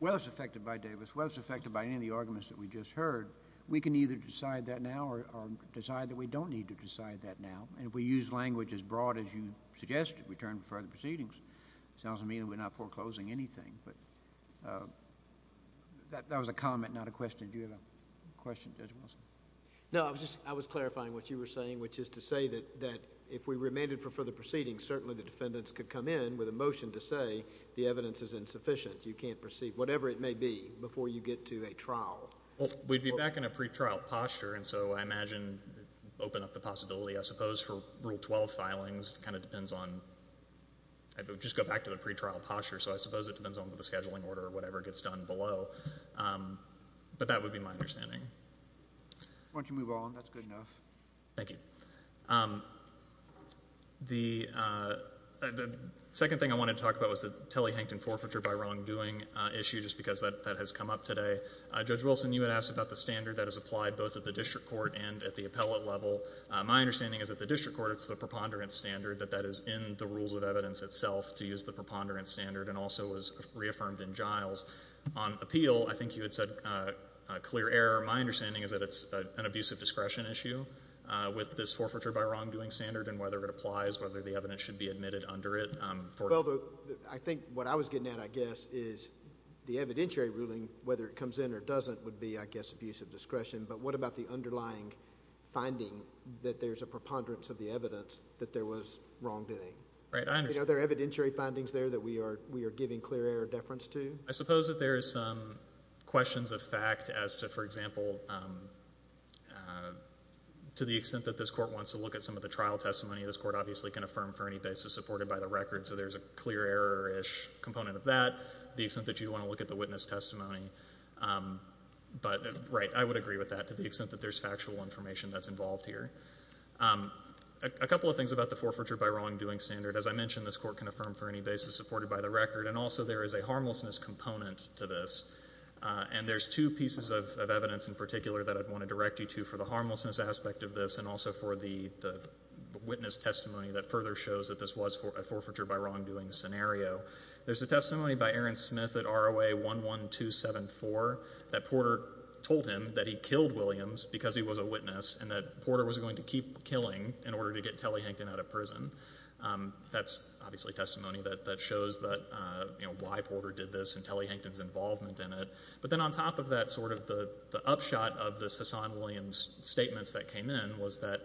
Well, it's affected by Davis. Well, it's affected by any of the arguments that we just heard. We can either decide that now or decide that we don't need to decide that now. And if we use language as broad as you suggested, we turn to further proceedings, it sounds to me that we're not foreclosing anything, but... that was a comment, not a question. Do you have a question, Judge Wilson? No, I was clarifying what you were saying, which is to say that if we remanded for further proceedings, certainly the defendants could come in with a motion to say the evidence is insufficient. You can't proceed, whatever it may be, before you get to a trial. Well, we'd be back in a pretrial posture, and so I imagine, open up the possibility, I suppose for Rule 12 filings, it kind of depends on... just go back to the pretrial posture. So I suppose it depends on the scheduling order or whatever gets done below. But that would be my understanding. Why don't you move on? That's good enough. Thank you. The second thing I wanted to talk about was the Telle-Hankton forfeiture by wrongdoing issue, just because that has come up today. Judge Wilson, you had asked about the standard that is applied both at the district court and at the appellate level. My understanding is that the district court, it's the preponderance standard, that that is in the rules of evidence itself, to use the preponderance standard, and also was reaffirmed in Giles. On appeal, I think you had said clear error. My understanding is that it's an abuse of discretion issue, with this forfeiture by wrongdoing standard and whether it applies, whether the evidence should be admitted under it. Well, I think what I was getting at, I guess, is the evidentiary ruling, whether it comes in or doesn't, would be, I guess, abuse of discretion. But what about the underlying finding that there's a preponderance of the evidence that there was wrongdoing? Right. I understand. Are there evidentiary findings there that we are giving clear error deference to? I suppose that there is some questions of fact as to, for example, to the extent that this court wants to look at some of the trial testimony, this court obviously can affirm for any basis supported by the record. So there's a clear error-ish component of that, the extent that you want to look at the witness testimony. But right, I would agree with that to the extent that there's factual information that's involved here. A couple of things about the forfeiture by wrongdoing standard. As I mentioned, this court can affirm for any basis supported by the record. And also, there is a harmlessness component to this. And there's two pieces of evidence in particular that I'd want to direct you to for the harmlessness aspect of this and also for the witness testimony that further shows that this was a forfeiture by wrongdoing scenario. There's a testimony by Aaron Smith at ROA 11274 that Porter told him that he killed Williams because he was a witness and that Porter was going to keep killing in order to get Telly Hankton out of prison. That's obviously testimony that shows that, you know, why Porter did this and Telly Hankton's involvement in it. But then on top of that, sort of the upshot of this Hassan Williams statements that came in was that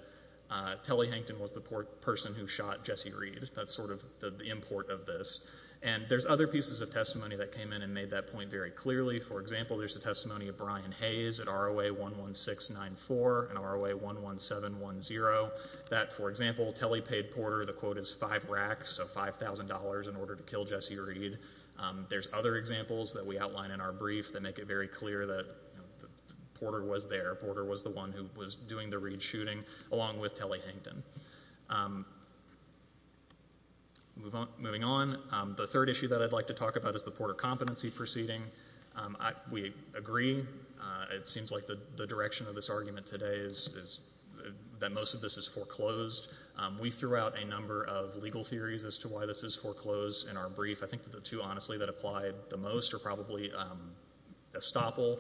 Telly Hankton was the person who shot Jesse Reed. That's sort of the import of this. And there's other pieces of testimony that came in and made that point very clearly. For example, there's a testimony of Brian Hayes at ROA 11694 and ROA 11710 that, for the quota's five racks, so $5,000 in order to kill Jesse Reed. There's other examples that we outline in our brief that make it very clear that Porter was there. Porter was the one who was doing the Reed shooting along with Telly Hankton. Moving on, the third issue that I'd like to talk about is the Porter competency proceeding. We agree, it seems like the direction of this argument today is that most of this is foreclosed. We threw out a number of legal theories as to why this is foreclosed in our brief. I think that the two, honestly, that applied the most are probably estoppel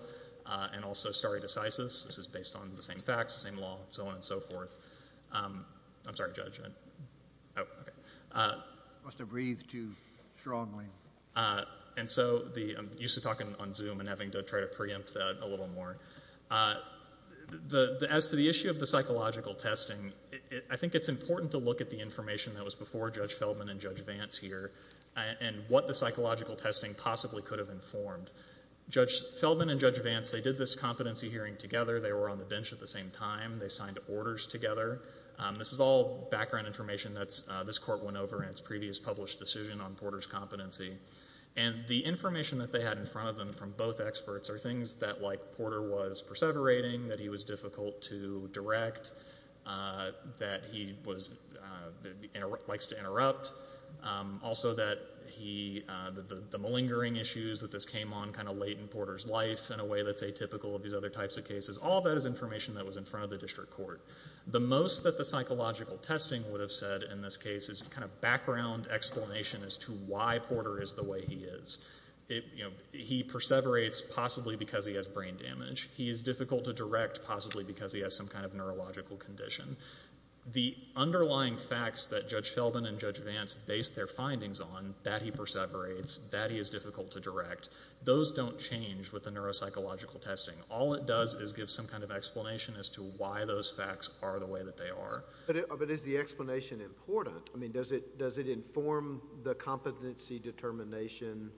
and also stare decisis. This is based on the same facts, the same law, so on and so forth. I'm sorry, Judge. I must have breathed too strongly. And so, I'm used to talking on Zoom and having to try to preempt that a little more. As to the issue of the psychological testing, I think it's important to look at the information that was before Judge Feldman and Judge Vance here and what the psychological testing possibly could have informed. Judge Feldman and Judge Vance, they did this competency hearing together. They were on the bench at the same time. They signed orders together. This is all background information that this court went over in its previous published decision on Porter's competency. And the information that they had in front of them from both experts are things that, like, Porter was perseverating, that he was difficult to direct, that he likes to interrupt. Also that he, the malingering issues that this came on kind of late in Porter's life in a way that's atypical of these other types of cases. All that is information that was in front of the district court. The most that the psychological testing would have said in this case is kind of background explanation as to why Porter is the way he is. It, you know, he perseverates possibly because he has brain damage. He is difficult to direct possibly because he has some kind of neurological condition. The underlying facts that Judge Feldman and Judge Vance based their findings on, that he perseverates, that he is difficult to direct, those don't change with the neuropsychological testing. All it does is give some kind of explanation as to why those facts are the way that they are. But is the explanation important? I mean, does it inform the competency determination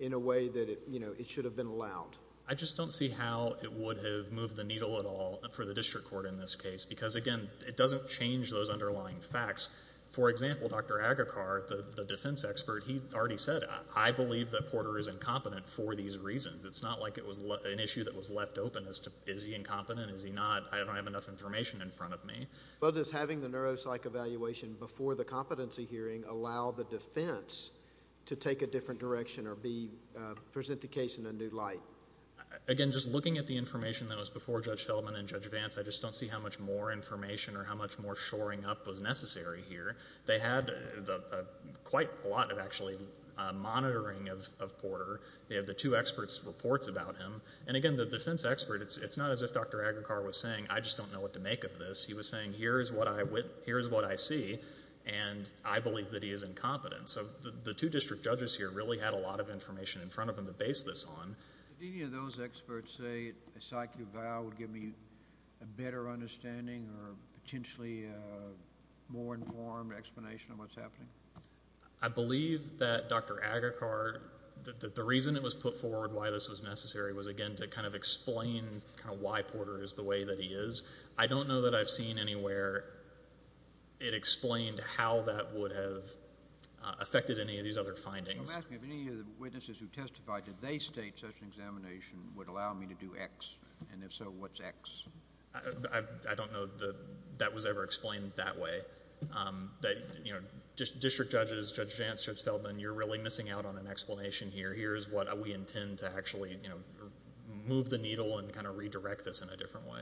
in a way that it, you know, it should have been allowed? I just don't see how it would have moved the needle at all for the district court in this case because, again, it doesn't change those underlying facts. For example, Dr. Agarkar, the defense expert, he already said, I believe that Porter is incompetent for these reasons. It's not like it was an issue that was left open as to, is he incompetent, is he not? I don't have enough information in front of me. But does having the neuropsych evaluation before the competency hearing allow the defense to take a different direction or be, present the case in a new light? Again, just looking at the information that was before Judge Feldman and Judge Vance, I just don't see how much more information or how much more shoring up was necessary here. They had quite a lot of actually monitoring of Porter. They have the two experts' reports about him. And again, the defense expert, it's not as if Dr. Agarkar was saying, I just don't know what to make of this. He was saying, here's what I, here's what I see. And I believe that he is incompetent. So the two district judges here really had a lot of information in front of them to base this on. Did any of those experts say a psych eval would give me a better understanding or potentially more informed explanation of what's happening? I believe that Dr. Agarkar, that the reason it was put forward why this was necessary was again to kind of explain kind of why Porter is the way that he is. I don't know that I've seen anywhere it explained how that would have affected any of these other findings. I'm asking if any of the witnesses who testified, did they state such an examination would allow me to do X? And if so, what's X? I don't know that that was ever explained that way. That, you know, district judges, Judge Vance, Judge Feldman, you're really missing out on an explanation here. Here's what we intend to actually, you know, move the needle and kind of redirect this in a different way.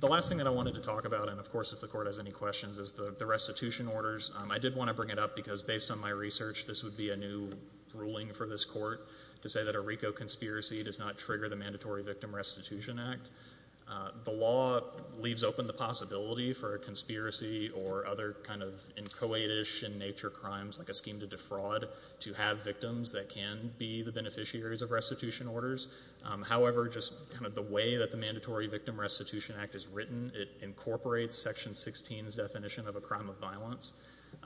The last thing that I wanted to talk about, and of course if the court has any questions, is the restitution orders. I did want to bring it up because based on my research, this would be a new ruling for this court to say that a RICO conspiracy does not trigger the Mandatory Victim Restitution Act. The law leaves open the possibility for a conspiracy or other kind of inchoate-ish in nature crimes, like a scheme to defraud, to have victims that can be the beneficiaries of restitution orders. However, just kind of the way that the Mandatory Victim Restitution Act is written, it incorporates Section 16's definition of a crime of violence.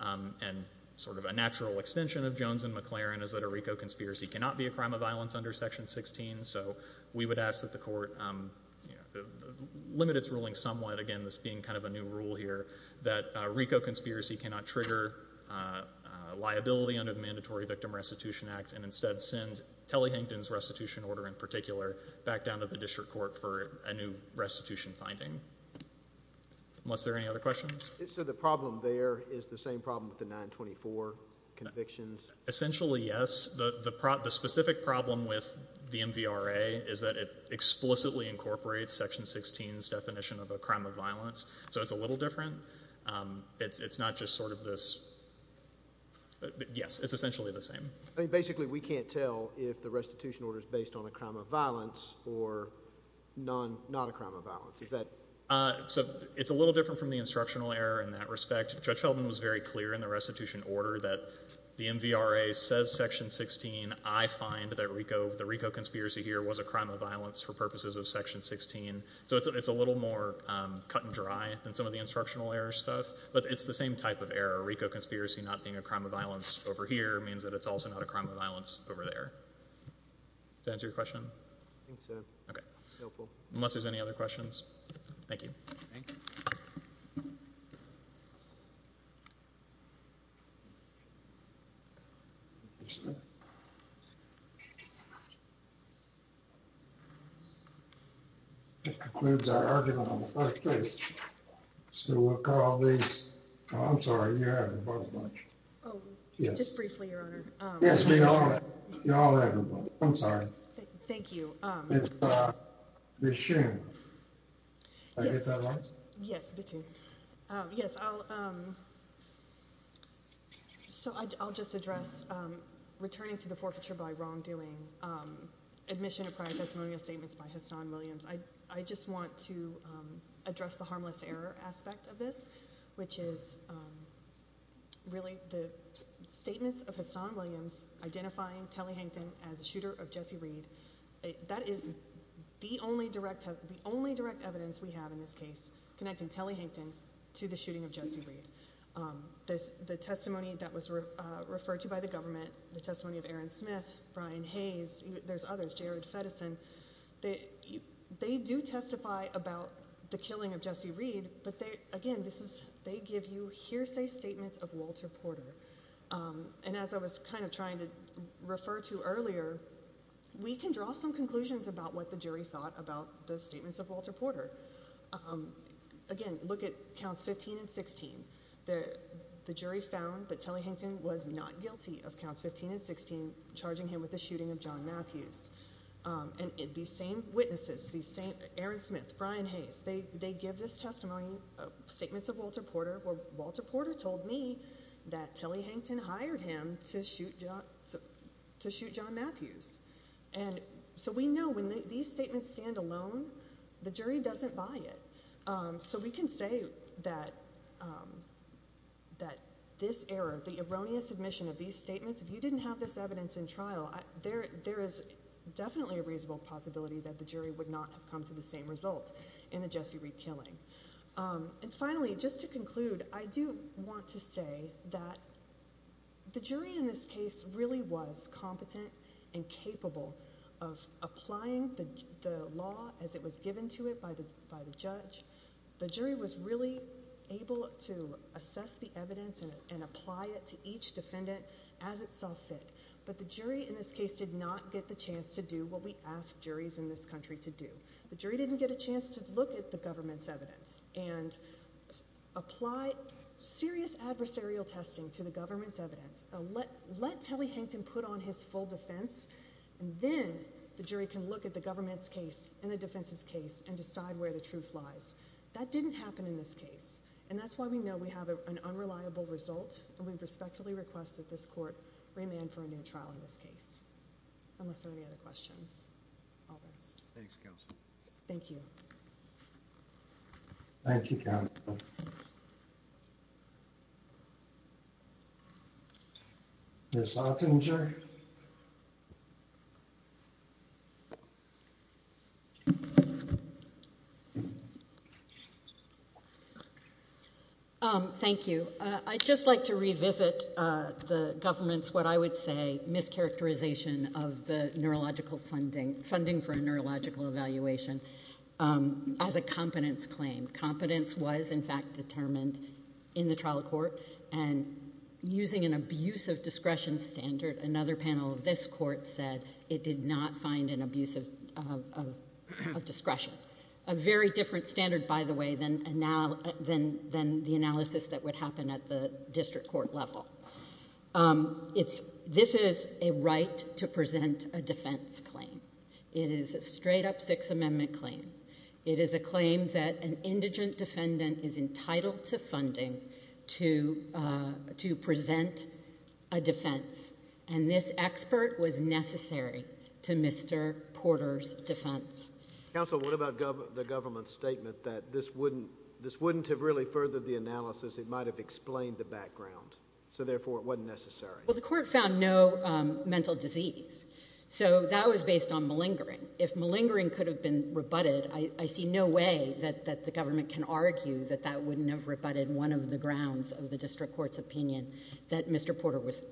And sort of a natural extension of Jones and McLaren is that a RICO conspiracy cannot be a crime of violence under Section 16. So we would ask that the court, you know, limit its ruling somewhat, again, this being kind of a new rule here, that a RICO conspiracy cannot trigger liability under the Mandatory Victim Restitution Act, and instead send Telly-Hankton's restitution order in particular back down to the district court for a new restitution finding. Unless there are any other questions? So the problem there is the same problem with the 924 convictions? Essentially yes. The specific problem with the MVRA is that it explicitly incorporates Section 16's definition of a crime of violence. So it's a little different. It's not just sort of this, yes, it's essentially the same. I mean, basically we can't tell if the restitution order is based on a crime of violence or not a crime of violence. Is that? So it's a little different from the instructional error in that respect. Judge Heldman was very clear in the restitution order that the MVRA says Section 16. I find that the RICO conspiracy here was a crime of violence for purposes of Section 16. So it's a little more cut and dry than some of the instructional error stuff, but it's the same type of error. A RICO conspiracy not being a crime of violence over here means that it's also not a crime of violence over there. Does that answer your question? I think so. Okay. Helpful. Unless there's any other questions. Thank you. Thank you. This concludes our argument on the first case, so we'll call these, oh, I'm sorry, you're having a problem. Oh, just briefly, Your Honor. Yes, we are. You're all having a problem. I'm sorry. Thank you. Ms. Schimm. Did I get that right? Yes. Yes. So I'll just address returning to the forfeiture by wrongdoing, admission of prior testimonial statements by Hassan Williams. I just want to address the harmless error aspect of this, which is really the statements of Hassan Williams identifying Telly Hankton as a shooter of Jesse Reed. That is the only direct evidence we have in this case connecting Telly Hankton to the shooting of Jesse Reed. The testimony that was referred to by the government, the testimony of Aaron Smith, Brian Hayes, there's others, Jared Feddison, they do testify about the killing of Jesse Reed, but again, they give you hearsay statements of Walter Porter. And as I was kind of trying to refer to earlier, we can draw some conclusions about what the jury thought about the statements of Walter Porter. Again, look at counts 15 and 16. The jury found that Telly Hankton was not guilty of counts 15 and 16, charging him with the shooting of John Matthews. And these same witnesses, Aaron Smith, Brian Hayes, they give this testimony, statements of Walter Porter, where Walter Porter told me that Telly Hankton hired him to shoot John Matthews. So we know when these statements stand alone, the jury doesn't buy it. So we can say that this error, the erroneous admission of these statements, if you didn't have this evidence in trial, there is definitely a reasonable possibility that the jury would not have come to the same result in the Jesse Reed killing. And finally, just to conclude, I do want to say that the jury in this case really was competent and capable of applying the law as it was given to it by the judge. The jury was really able to assess the evidence and apply it to each defendant as it saw fit. But the jury in this case did not get the chance to do what we ask juries in this country to do. The jury didn't get a chance to look at the government's evidence and apply serious adversarial testing to the government's evidence, let Telly Hankton put on his full defense, and then the jury can look at the government's case and the defense's case and decide where the truth lies. That didn't happen in this case. And that's why we know we have an unreliable result, and we respectfully request that this court remand for a new trial in this case, unless there are any other questions. All the best. Thanks, counsel. Thank you. Thank you, counsel. Ms. Lautinger? Thank you. I'd just like to revisit the government's, what I would say, mischaracterization of the funding for a neurological evaluation as a competence claim. Competence was, in fact, determined in the trial court, and using an abuse of discretion standard, another panel of this court said it did not find an abuse of discretion, a very different standard, by the way, than the analysis that would happen at the district court level. This is a right to present a defense claim. It is a straight-up Sixth Amendment claim. It is a claim that an indigent defendant is entitled to funding to present a defense, and this expert was necessary to Mr. Porter's defense. Counsel, what about the government's statement that this wouldn't have really furthered the analysis, it might have explained the background? So, therefore, it wasn't necessary? Well, the court found no mental disease. So, that was based on malingering. If malingering could have been rebutted, I see no way that the government can argue that that wouldn't have rebutted one of the grounds of the district court's opinion, that Mr. Porter was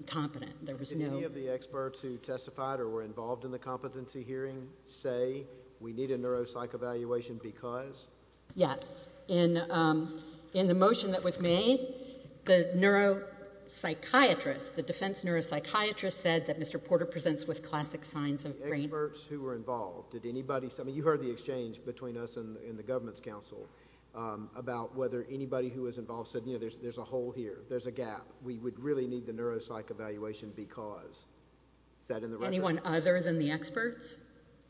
incompetent. There was no... Did any of the experts who testified or were involved in the competency hearing say, we need a neuropsych evaluation because? Yes. In the motion that was made, the neuropsychiatrist, the defense neuropsychiatrist said that Mr. Porter presents with classic signs of brain... The experts who were involved, did anybody... I mean, you heard the exchange between us and the government's counsel about whether anybody who was involved said, you know, there's a hole here, there's a gap, we would really need the neuropsych evaluation because. Anyone other than the experts?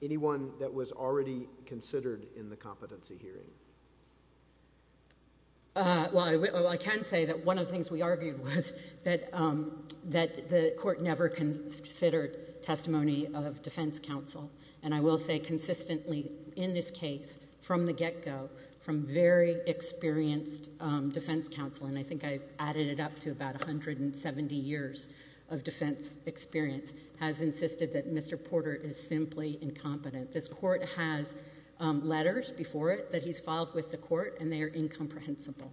Anyone that was already considered in the competency hearing? Well, I can say that one of the things we argued was that the court never considered testimony of defense counsel. And I will say consistently, in this case, from the get-go, from very experienced defense counsel, and I think I've added it up to about 170 years of defense experience, has said that Mr. Porter is simply incompetent. This court has letters before it that he's filed with the court, and they are incomprehensible.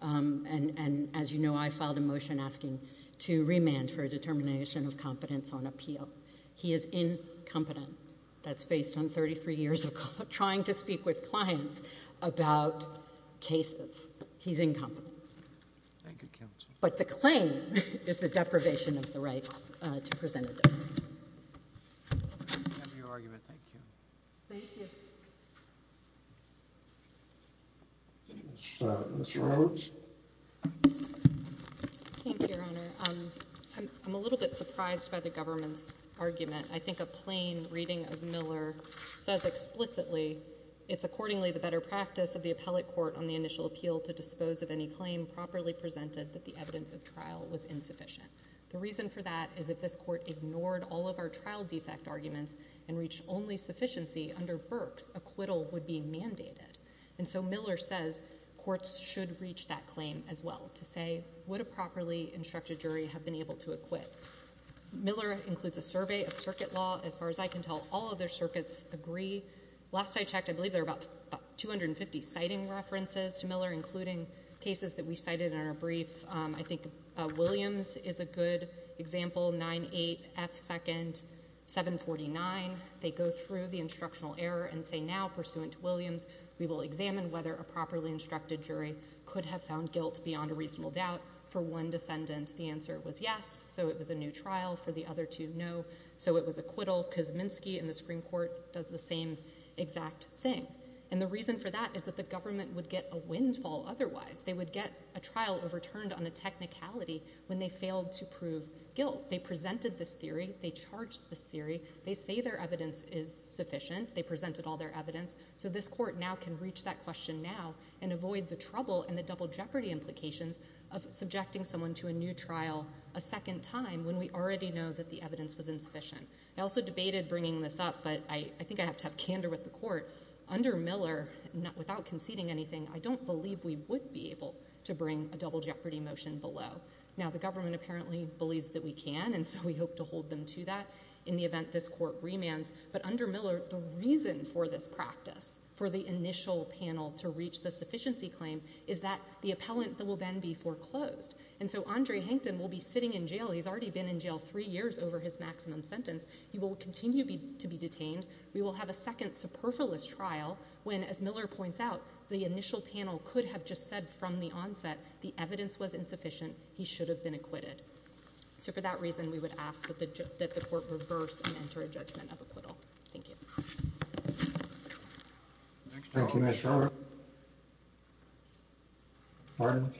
And as you know, I filed a motion asking to remand for a determination of competence on appeal. He is incompetent. That's based on 33 years of trying to speak with clients about cases. He's incompetent. Thank you, counsel. But the claim is the deprivation of the right to present a defense. Thank you for your argument. Thank you. Thank you. Ms. Rhodes? Thank you, Your Honor. I'm a little bit surprised by the government's argument. I think a plain reading of Miller says explicitly, it's accordingly the better practice of the appellate court on the initial appeal to dispose of any claim properly presented that the evidence of trial was insufficient. The reason for that is if this court ignored all of our trial defect arguments and reached only sufficiency under Burke's, acquittal would be mandated. And so Miller says courts should reach that claim as well, to say, would a properly instructed jury have been able to acquit? Miller includes a survey of circuit law. As far as I can tell, all other circuits agree. Last I checked, I believe there are about 250 citing references to Miller, including cases that we cited in our brief. I think Williams is a good example, 9-8-F-2nd-749. They go through the instructional error and say, now, pursuant to Williams, we will examine whether a properly instructed jury could have found guilt beyond a reasonable doubt. For one defendant, the answer was yes, so it was a new trial. For the other two, no, so it was acquittal. Kuzminski and the Supreme Court does the same exact thing. And the reason for that is that the government would get a windfall otherwise. They would get a trial overturned on a technicality when they failed to prove guilt. They presented this theory. They charged this theory. They say their evidence is sufficient. They presented all their evidence. So this court now can reach that question now and avoid the trouble and the double jeopardy implications of subjecting someone to a new trial a second time when we already know that the evidence was insufficient. I also debated bringing this up, but I think I have to have candor with the court. Under Miller, without conceding anything, I don't believe we would be able to bring a double jeopardy motion below. Now, the government apparently believes that we can, and so we hope to hold them to that in the event this court remands. But under Miller, the reason for this practice, for the initial panel to reach the sufficiency claim, is that the appellant will then be foreclosed. And so Andre Hankton will be sitting in jail. He's already been in jail three years over his maximum sentence. He will continue to be detained. We will have a second superfluous trial when, as Miller points out, the initial panel could have just said from the onset, the evidence was insufficient. He should have been acquitted. So for that reason, we would ask that the court reverse and enter a judgment of acquittal. Thank you. Thank you, Ms. Sherwood. Pardon?